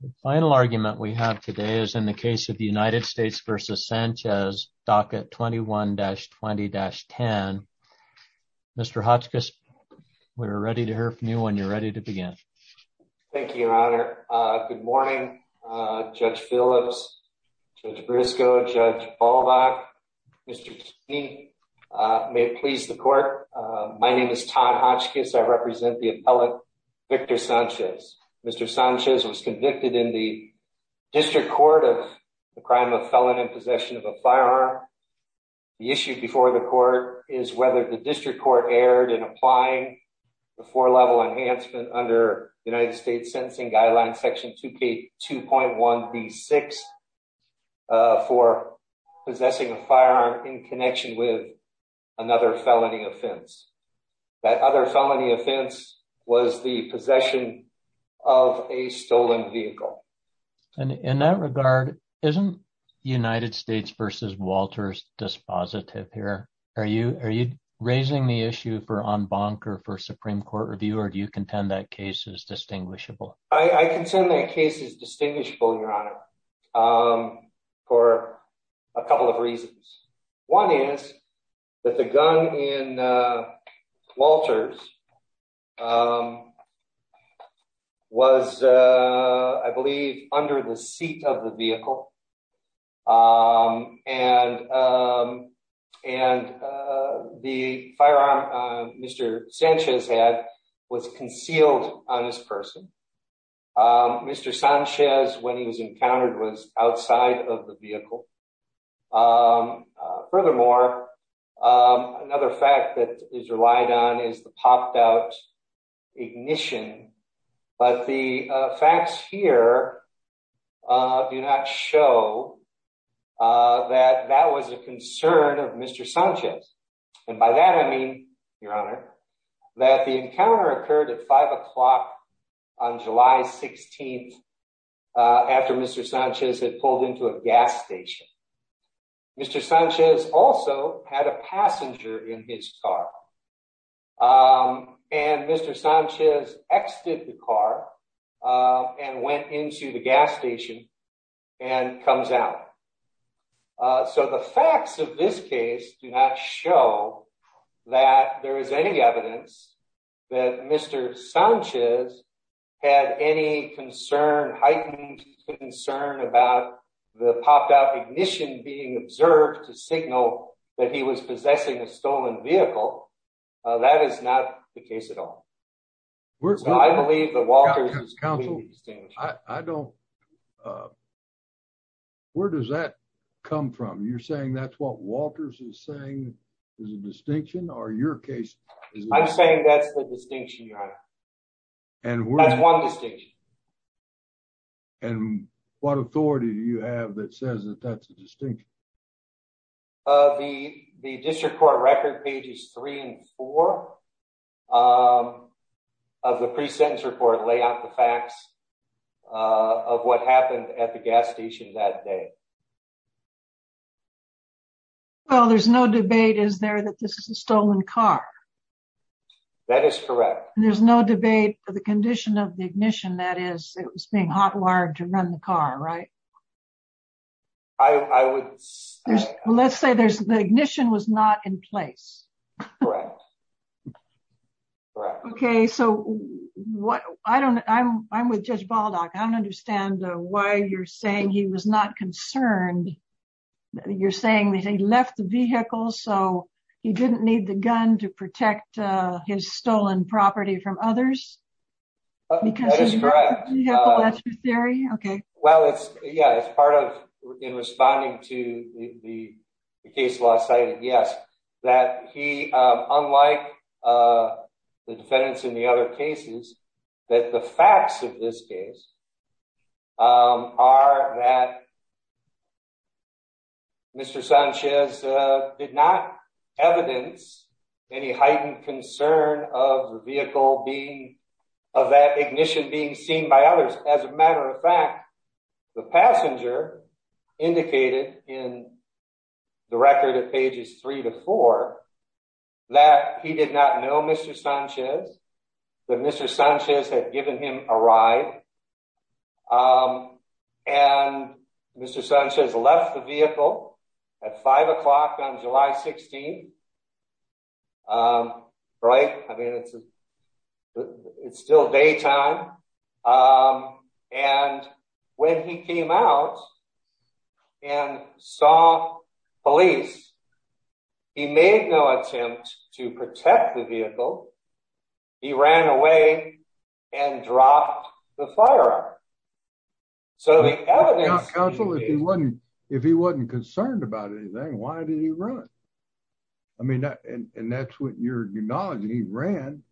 The final argument we have today is in the case of the United States v. Sanchez, docket 21-20-10. Mr. Hotchkiss, we're ready to hear from you when you're ready to begin. Thank you, Your Honor. Good morning, Judge Phillips, Judge Briscoe, Judge Balbach, Mr. Kinney. May it please the court, my name is Todd Hotchkiss. I represent the appellate, Victor Sanchez. Mr. Sanchez was convicted in the district court of the crime of felon in possession of a firearm. The issue before the court is whether the district court erred in applying the four-level enhancement under United States Sentencing Guidelines Section 2K2.1b6 for possessing a firearm in connection with another felony offense. That other felony offense was the possession of a stolen vehicle. In that regard, isn't United States v. Walters dispositive here? Are you raising the issue for en banc or for Supreme Court review, or do you contend that case is distinguishable? I contend that case is distinguishable, Your Honor, for a couple of reasons. One is that the gun in Walters was, I believe, under the seat of the vehicle, and the firearm Mr. Sanchez had was concealed on his person. Mr. Sanchez, when he was encountered, was outside of the vehicle. Furthermore, another fact that is relied on is the popped-out ignition, but the facts here do not show that that was a concern of Mr. Sanchez, and by that I mean, Your Honor, that the encounter occurred at five o'clock on July 16th after Mr. Sanchez had pulled into a gas station. Mr. Sanchez also had a passenger in his car, and Mr. Sanchez exited the car and went into the gas station and comes out. So the facts of this case do not show that there is any evidence that Mr. Sanchez had any heightened concern about the popped-out ignition being observed to signal that he was possessing a stolen vehicle. That is not the case at all. I believe that Walters is completely distinguishable. Where does that come from? You're or your case? I'm saying that's the distinction, Your Honor. That's one distinction. And what authority do you have that says that that's a distinction? The district court record pages three and four of the pre-sentence report lay out the facts of what happened at the gas station that day. Well, there's no debate, is there, that this is a stolen car? That is correct. There's no debate for the condition of the ignition, that is, it was being hot-wired to run the car, right? I would... Let's say there's... the ignition was not in place. Correct, correct. Okay, so what... I don't... I'm... I'm with Judge Baldock. I don't understand why you're saying he was not concerned. You're saying that he left the vehicle so he didn't need the gun to protect his stolen property from others? That is correct. Because he left the vehicle, that's your theory? Okay. Well, it's... yeah, it's part of... in responding to the case law cited, yes, that he... Mr. Sanchez did not evidence any heightened concern of the vehicle being... of that ignition being seen by others. As a matter of fact, the passenger indicated in the record of pages three to four that he did not know Mr. Sanchez, that Mr. Sanchez had given him a ride, and Mr. Sanchez left the vehicle at five o'clock on July 16th, right? I mean, it's still daytime, and when he came out and saw police, he made no attempt to protect the vehicle. He ran away and dropped the firearm. So the evidence... Counsel, if he wasn't... if he wasn't concerned about anything, why did he run? I mean, and that's what you're acknowledging. He ran,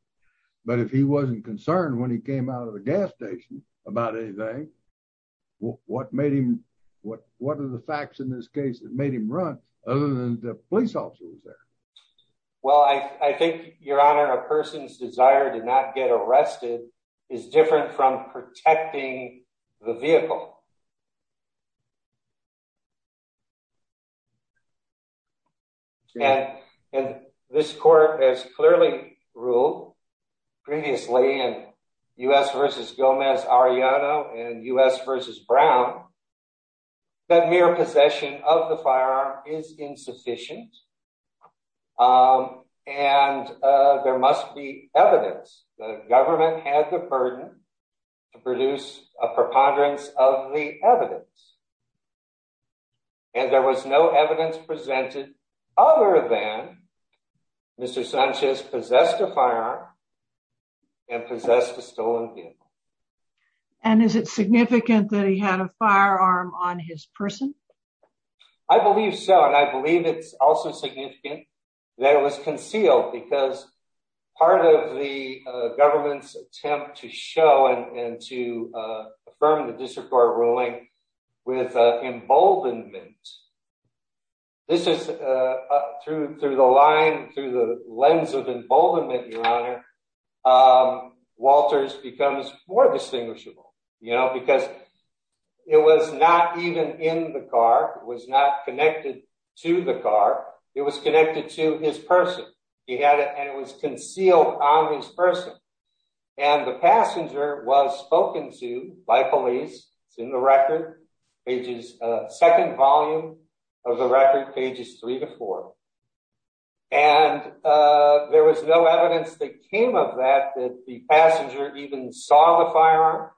but if he wasn't concerned when he came out of the gas station about anything, what made him... what... what are the facts in this case that made him run other than the police officer was there? Well, I think, Your Honor, a person's desire to not get arrested is different from protecting the vehicle. And this court has clearly ruled previously in U.S. v. Gomez-Arellano and U.S. v. Brown that mere possession of the firearm is insufficient, and there must be evidence. The government had the burden to produce a preponderance of the evidence, and there was no evidence presented other than Mr. Sanchez possessed a firearm and possessed a stolen vehicle. And is it significant that he had a firearm on his person? I believe so, and I believe it's also significant that it was concealed because part of the government's attempt to show and to affirm the district court ruling with emboldenment... this is through the line, through the lens of emboldenment, Your Honor, Walters becomes more distinguishable, you know, because it was not even in the car, was not connected to the car, it was connected to his person. He had it and it was concealed on his person, and the passenger was spoken to by police. It's in the record, pages, second volume of the record, pages three to four, and there was no evidence that came of that, that the passenger even saw the firearm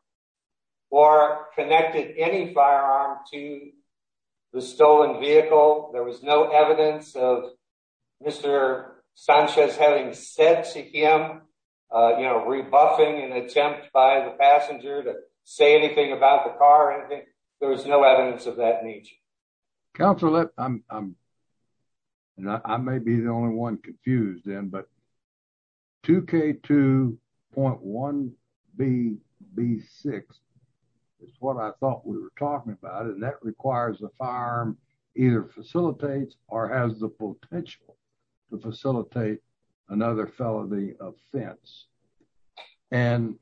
or connected any firearm to the stolen vehicle. There was no evidence of Mr. Sanchez having said to him, you know, rebuffing an attempt by the police. There was no evidence of that nature. Counselor, I may be the only one confused then, but 2K2.1BB6 is what I thought we were talking about, and that requires the firearm either facilitates or has the potential to facilitate another felony offense. And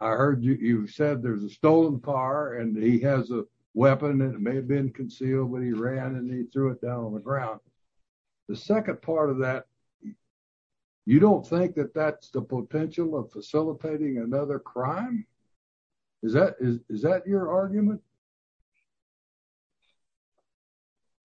I heard you said there's a stolen car and he has a weapon and it may have been concealed when he ran and he threw it down on the ground. The second part of that, you don't think that that's the potential of facilitating another crime? Is that your argument?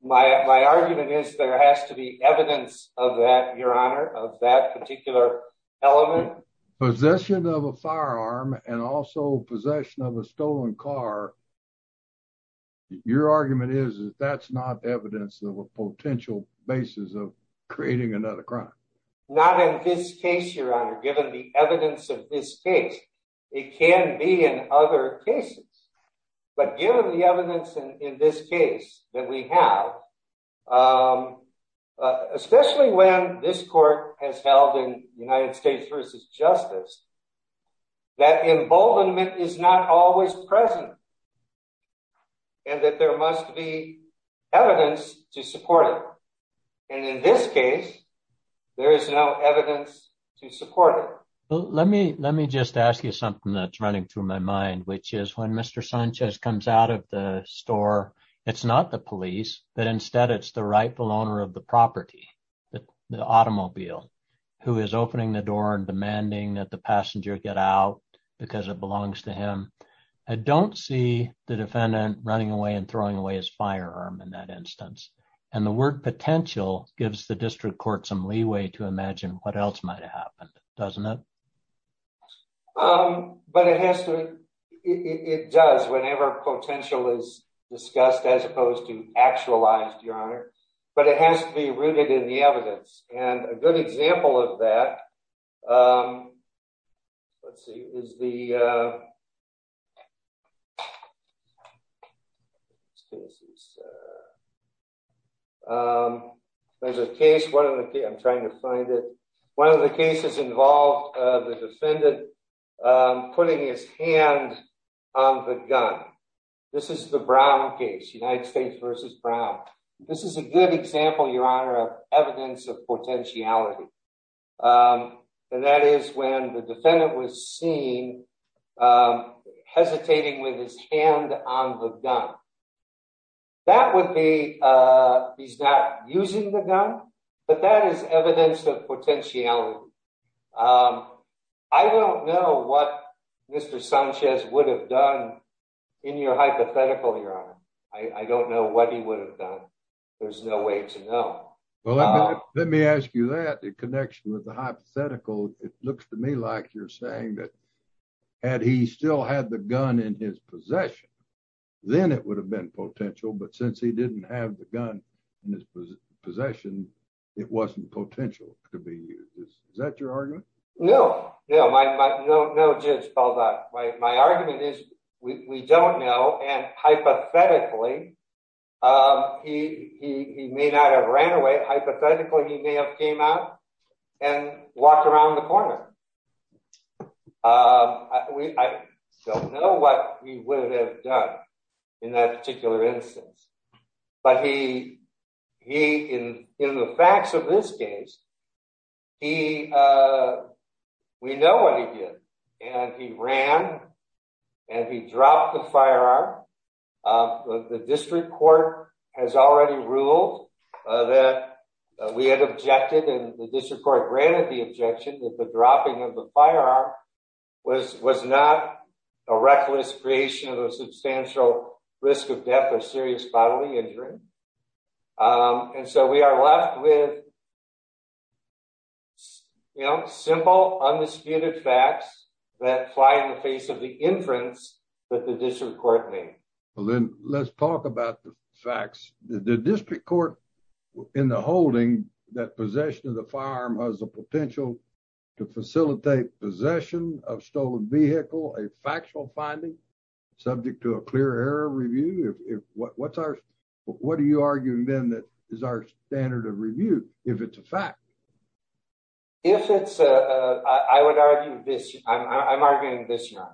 My argument is there has to be evidence of that, Your Honor, of that particular element. Possession of a firearm and also possession of a stolen car, your argument is that that's not evidence of a potential basis of creating another crime. Not in this case, Your Honor, given the evidence of this case. It can be in other cases, but given the evidence in this case that we have, especially when this court has held in United States v. Justice, that emboldenment is not always present and that there must be evidence to support it. And in this case, there is no evidence to support it. Let me just ask you something that's running through my mind, which is when Mr. Sanchez comes out of the store, it's not the police but instead it's the rightful owner of the property, the automobile, who is opening the door and demanding that the passenger get out because it belongs to him. I don't see the defendant running away and throwing away his firearm in that instance. And the word potential gives the district court some leeway to imagine what else might have happened, doesn't it? Um, but it has to, it does whenever potential is discussed as opposed to actualized, Your Honor, but it has to be rooted in the evidence. And a good example of that, um, let's see, is the, there's a case, one of the, I'm trying to find it, one of the cases involved the defendant, um, putting his hand on the gun. This is the Brown case, United States versus Brown. This is a good example, Your Honor, of evidence of potentiality. Um, and that is when the defendant was seen, um, hesitating with his hand on the gun. That would be, uh, he's not using the gun, but that is evidence of potentiality. Um, I don't know what Mr. Sanchez would have done in your hypothetical, Your Honor. I don't know what he would have done. There's no way to know. Well, let me ask you that, the connection with the hypothetical, it looks to me like you're saying that had he still had the gun in his possession, then it would have been potential, but since he didn't have the gun in his possession, it wasn't potential to be used. Is that your argument? No, no, my, my, no, no jibs, Paul. My argument is we don't know. And hypothetically, um, he, he, he may not have ran away. Hypothetically, he may have came out and walked around the corner. Um, we, I don't know what he would have done in that particular instance, but he, he, in, in the facts of this case, he, uh, we know what he did and he ran and he dropped the firearm. Um, the district court has already ruled, uh, that we had objected and the district court granted the objection that the dropping of the firearm was, was not a reckless creation of a substantial risk of death or serious bodily injury. Um, and so we are left with, you know, simple, undisputed facts that fly in the face of the inference that the district court made. Well, then let's talk about the facts that the district court in the holding that possession of the firearm has the potential to facilitate possession of stolen vehicle, a factual finding subject to a clear error review. If what's our, what are you arguing then that is our standard of review? If it's a fact, if it's a, uh, I would argue this I'm, I'm arguing this year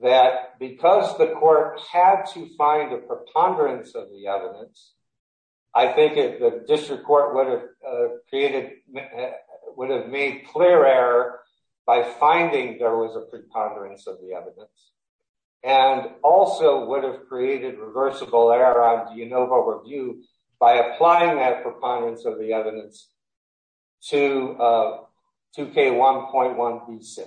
that because the court had to find a preponderance of the evidence, I think the district court would have created, would have made clear error by finding there was a preponderance of the evidence and also would have created reversible error on the ANOVA review by applying that preponderance of the evidence to, uh, 2k1.1b6.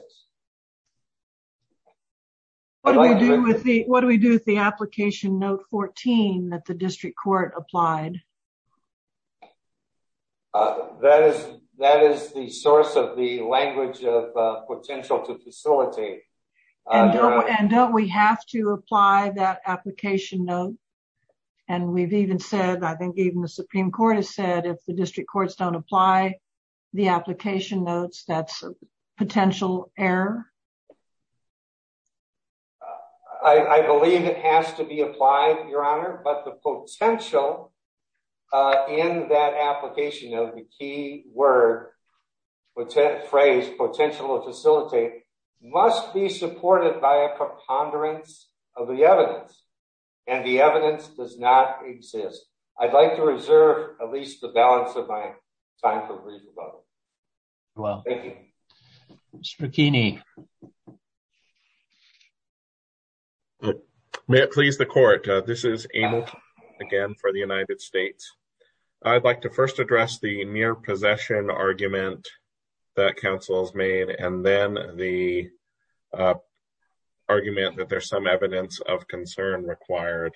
What do we do with the, what do we do with the application note 14 that the district court applied? Uh, that is, that is the source of the language of, uh, potential to facilitate. And don't we have to apply that application note? And we've even said, I think even the Supreme Court has said, if the district courts don't apply the application notes, that's a potential error. I believe it has to be applied, Your Honor, but the potential, uh, in that application of the key word, phrase, potential to facilitate must be supported by a preponderance of the evidence. And the evidence does not exist. I'd like to reserve at least the balance of my time. Thank you. Mr. McKinney. May it please the court. Uh, this is Abel again for the United States. I'd like to first address the mere possession argument that council has made and then the, uh, argument that there's some evidence of concern required.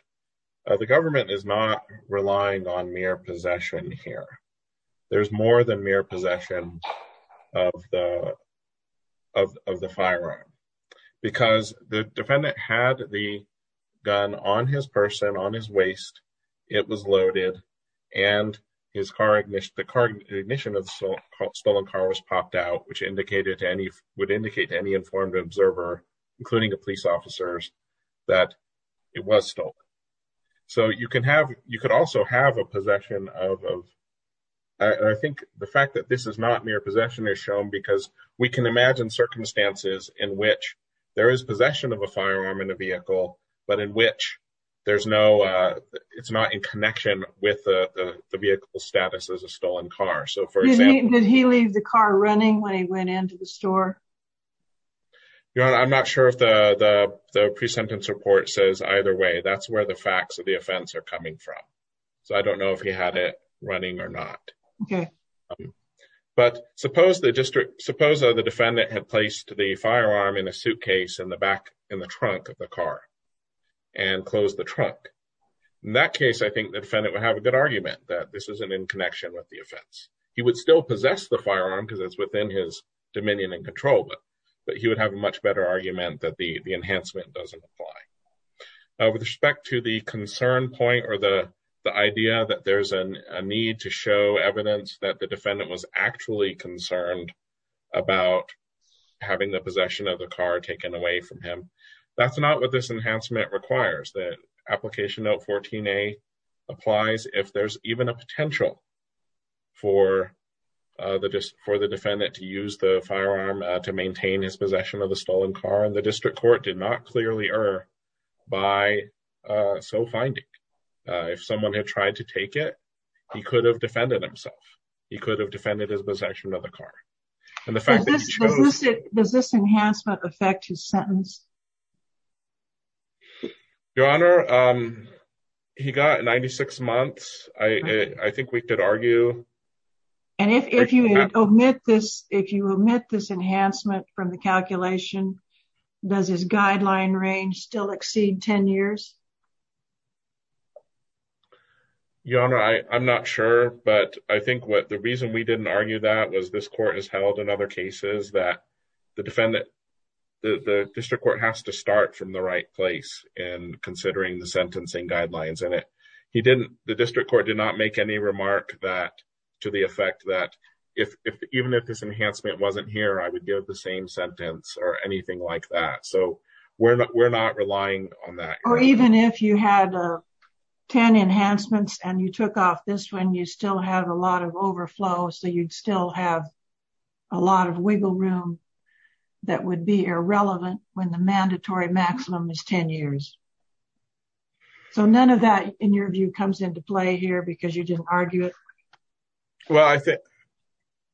Uh, the government is not relying on mere possession here. There's more than mere possession of the, of the firearm because the defendant had the gun on his person, on his waist, it was loaded and his car ignition, the ignition of the stolen car was popped out, which indicated to any, would indicate to any informed observer, including the police officers that it was stolen. So you can have, you could also have a possession of, of, I think the fact that this is not mere possession is shown because we can imagine circumstances in which there is possession of a firearm in a vehicle, but in which there's no, uh, it's not in connection with the vehicle status as a stolen car. So for example, did he leave the car running when he went into the store? Your Honor, I'm not sure if the, the, the pre-sentence report says either way, that's the facts of the offense are coming from. So I don't know if he had it running or not, but suppose the district, suppose the defendant had placed the firearm in a suitcase in the back, in the trunk of the car and close the trunk. In that case, I think the defendant would have a good argument that this isn't in connection with the offense. He would still possess the firearm because it's within his dominion and control, but he would have a much better argument that the, the enhancement doesn't apply. Uh, with respect to the concern point or the, the idea that there's an, a need to show evidence that the defendant was actually concerned about having the possession of the car taken away from him. That's not what this enhancement requires that application note 14a applies. If there's even a potential for, uh, the, just for the defendant to use the firearm to court did not clearly err by, uh, so finding, uh, if someone had tried to take it, he could have defended himself. He could have defended his possession of the car and the fact that does this enhancement affect his sentence? Your honor. Um, he got 96 months. I, I think we could argue. And if, if you omit this, if you omit this enhancement from the calculation, does his guideline range still exceed 10 years? Your honor, I, I'm not sure, but I think what the reason we didn't argue that was this court has held in other cases that the defendant, the district court has to start from the right place and considering the sentencing guidelines in it. He didn't, the district court did not make any remark that to the effect that if, if even if this enhancement wasn't here, I would give the same sentence or anything like that. So we're not, we're not relying on that. Or even if you had 10 enhancements and you took off this one, you still have a lot of overflow. So you'd still have a lot of wiggle room that would be irrelevant when the mandatory maximum is 10 years. So none of that in your view comes into play here because you didn't argue it. Well, I think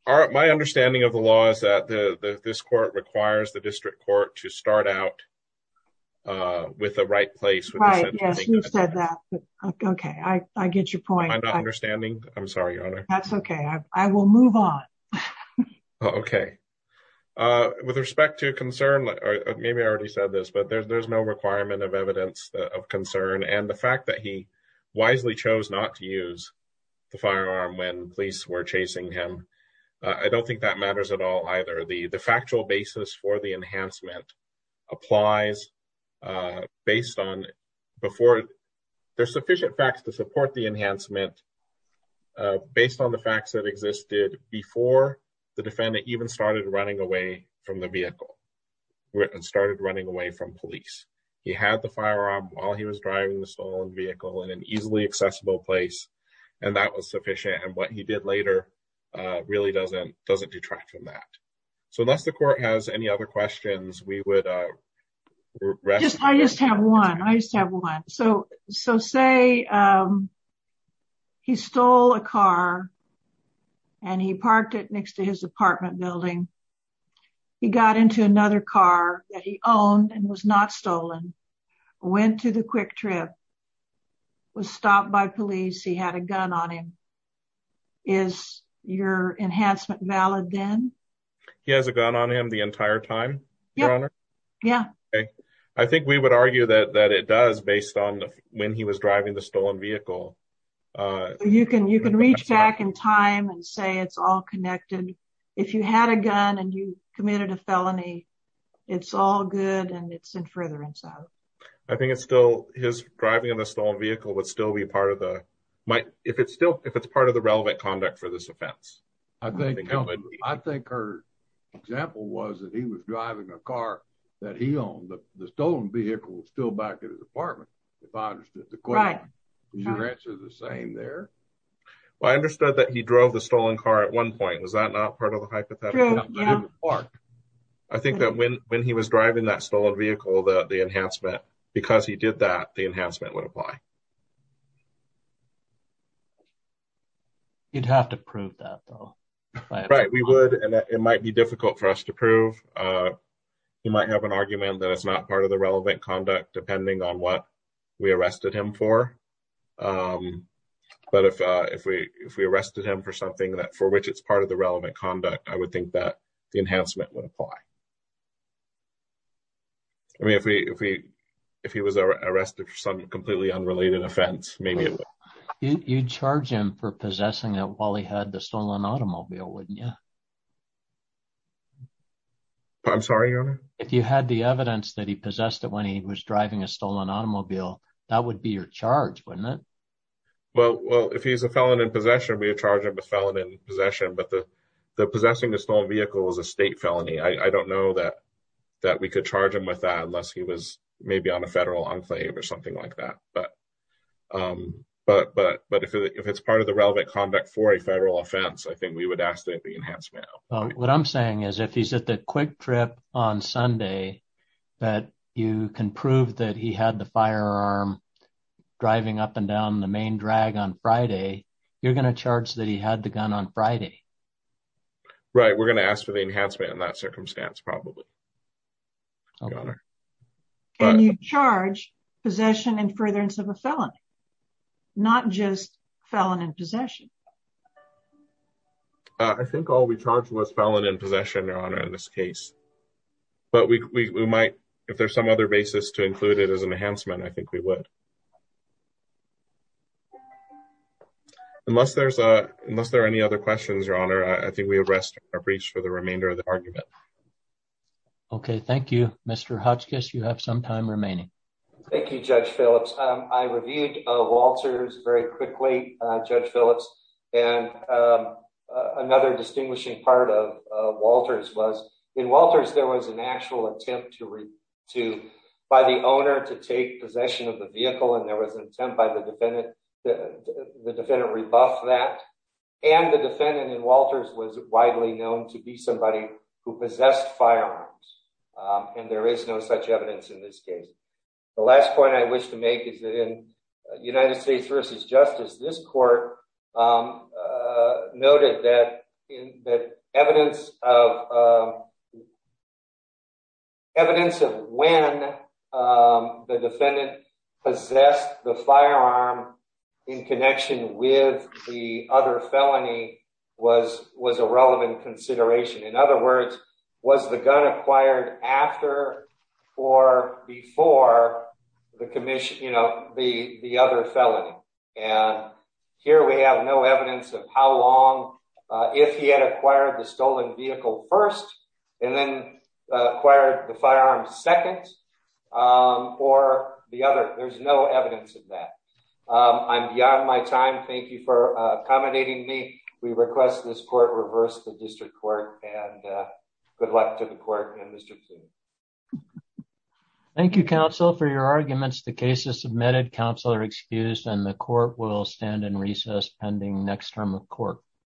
my understanding of the law is that the, this court requires the district court to start out, uh, with the right place. Okay. I get your point. I'm not understanding. I'm sorry, your honor. That's okay. I will move on. Okay. Uh, with respect to concern, maybe I already said this, but there's, there's no requirement of evidence of concern. And the fact that he wisely chose not to use the firearm when police were chasing him. Uh, I don't think that matters at all. Either the, the factual basis for the enhancement applies, uh, based on before there's sufficient facts to support the enhancement, uh, based on the facts that existed before the He had the firearm while he was driving the stolen vehicle in an easily accessible place. And that was sufficient. And what he did later, uh, really doesn't, doesn't detract from that. So unless the court has any other questions, we would, uh, I just have one. I just have one. So, so say, um, he stole a car and he parked it next to his apartment building. He got into another car that he owned and was not stolen, went to the quick trip, was stopped by police. He had a gun on him. Is your enhancement valid? Then he has a gun on him the entire time. Your honor. Yeah. Okay. I think we would argue that, that it does based on when he was driving the stolen vehicle. Uh, you can, you can reach back in time and say, it's all connected. If you had a gun and you committed a felony, it's all good. And it's in furtherance out. I think it's still his driving in a stolen vehicle would still be part of the, if it's still, if it's part of the relevant conduct for this offense. I think, I think her example was that he was driving a car that he owned the stolen vehicle still back at his apartment. If I understood the question, would you answer the same there? Well, I understood that he drove the stolen car at one point. Was that not part of the park? I think that when, when he was driving that stolen vehicle, that the enhancement, because he did that, the enhancement would apply. You'd have to prove that though. Right. We would, and it might be difficult for us to prove. You might have an argument that it's not part of the relevant conduct, depending on what we arrested him for. But if, if we, if we arrested him for something that, for which it's part of the relevant conduct, I would think that the enhancement would apply. I mean, if we, if we, if he was arrested for some completely unrelated offense, maybe. You'd charge him for possessing it while he had the stolen automobile, wouldn't you? I'm sorry. If you had the evidence that he possessed it when he was driving a stolen automobile, that would be your charge, wouldn't it? Well, well, if he's a felon in possession, we would charge him a felon in possession, but the, the possessing the stolen vehicle was a state felony. I don't know that, that we could charge him with that unless he was maybe on a federal enclave or something like that. But, but, but, but if it's part of the relevant conduct for a federal offense, I think we would ask that the enhancement. What I'm saying is if he's at the quick trip on Sunday, that you can prove that he had the firearm driving up and down the main drag on Friday, you're going to charge that he had the gun on Friday. Right. We're going to ask for the enhancement in that circumstance, probably. And you charge possession and furtherance of a felon, not just felon in possession. I think all we charged was felon in possession, Your Honor, in this case. But we, we, we might, if there's some other basis to include it as an enhancement, I think we would. Unless there's a, unless there are any other questions, Your Honor, I think we have rested our reach for the remainder of the argument. Okay. Thank you, Mr. Hodgkiss. You have some time remaining. Thank you, Judge Phillips. I reviewed Walter's very quickly, Judge Phillips, and another distinguishing part of Walter's was in Walter's, there was an actual attempt to, to, by the owner to take possession of the vehicle. And there was an attempt by the defendant, the defendant rebuffed that. And the defendant in Walter's was widely known to be somebody who possessed firearms. And there is no such evidence in this case. The last point I wish to make is that in United States v. Justice, this court noted that evidence of, evidence of when the defendant possessed the firearm in connection with the other felony was, was a relevant consideration. In other words, was the gun acquired after or before the commission, you know, the, the other felony. And here we have no evidence of how long, if he had acquired the stolen vehicle first, and then acquired the firearm second, or the other, there's no evidence of that. I'm beyond my time. Thank you for accommodating me. We request this court reverse the district court and good luck to the court and Mr. Pugh. Thank you, counsel, for your arguments. The case is submitted. Counsel are excused and the court will stand in recess pending next term of court.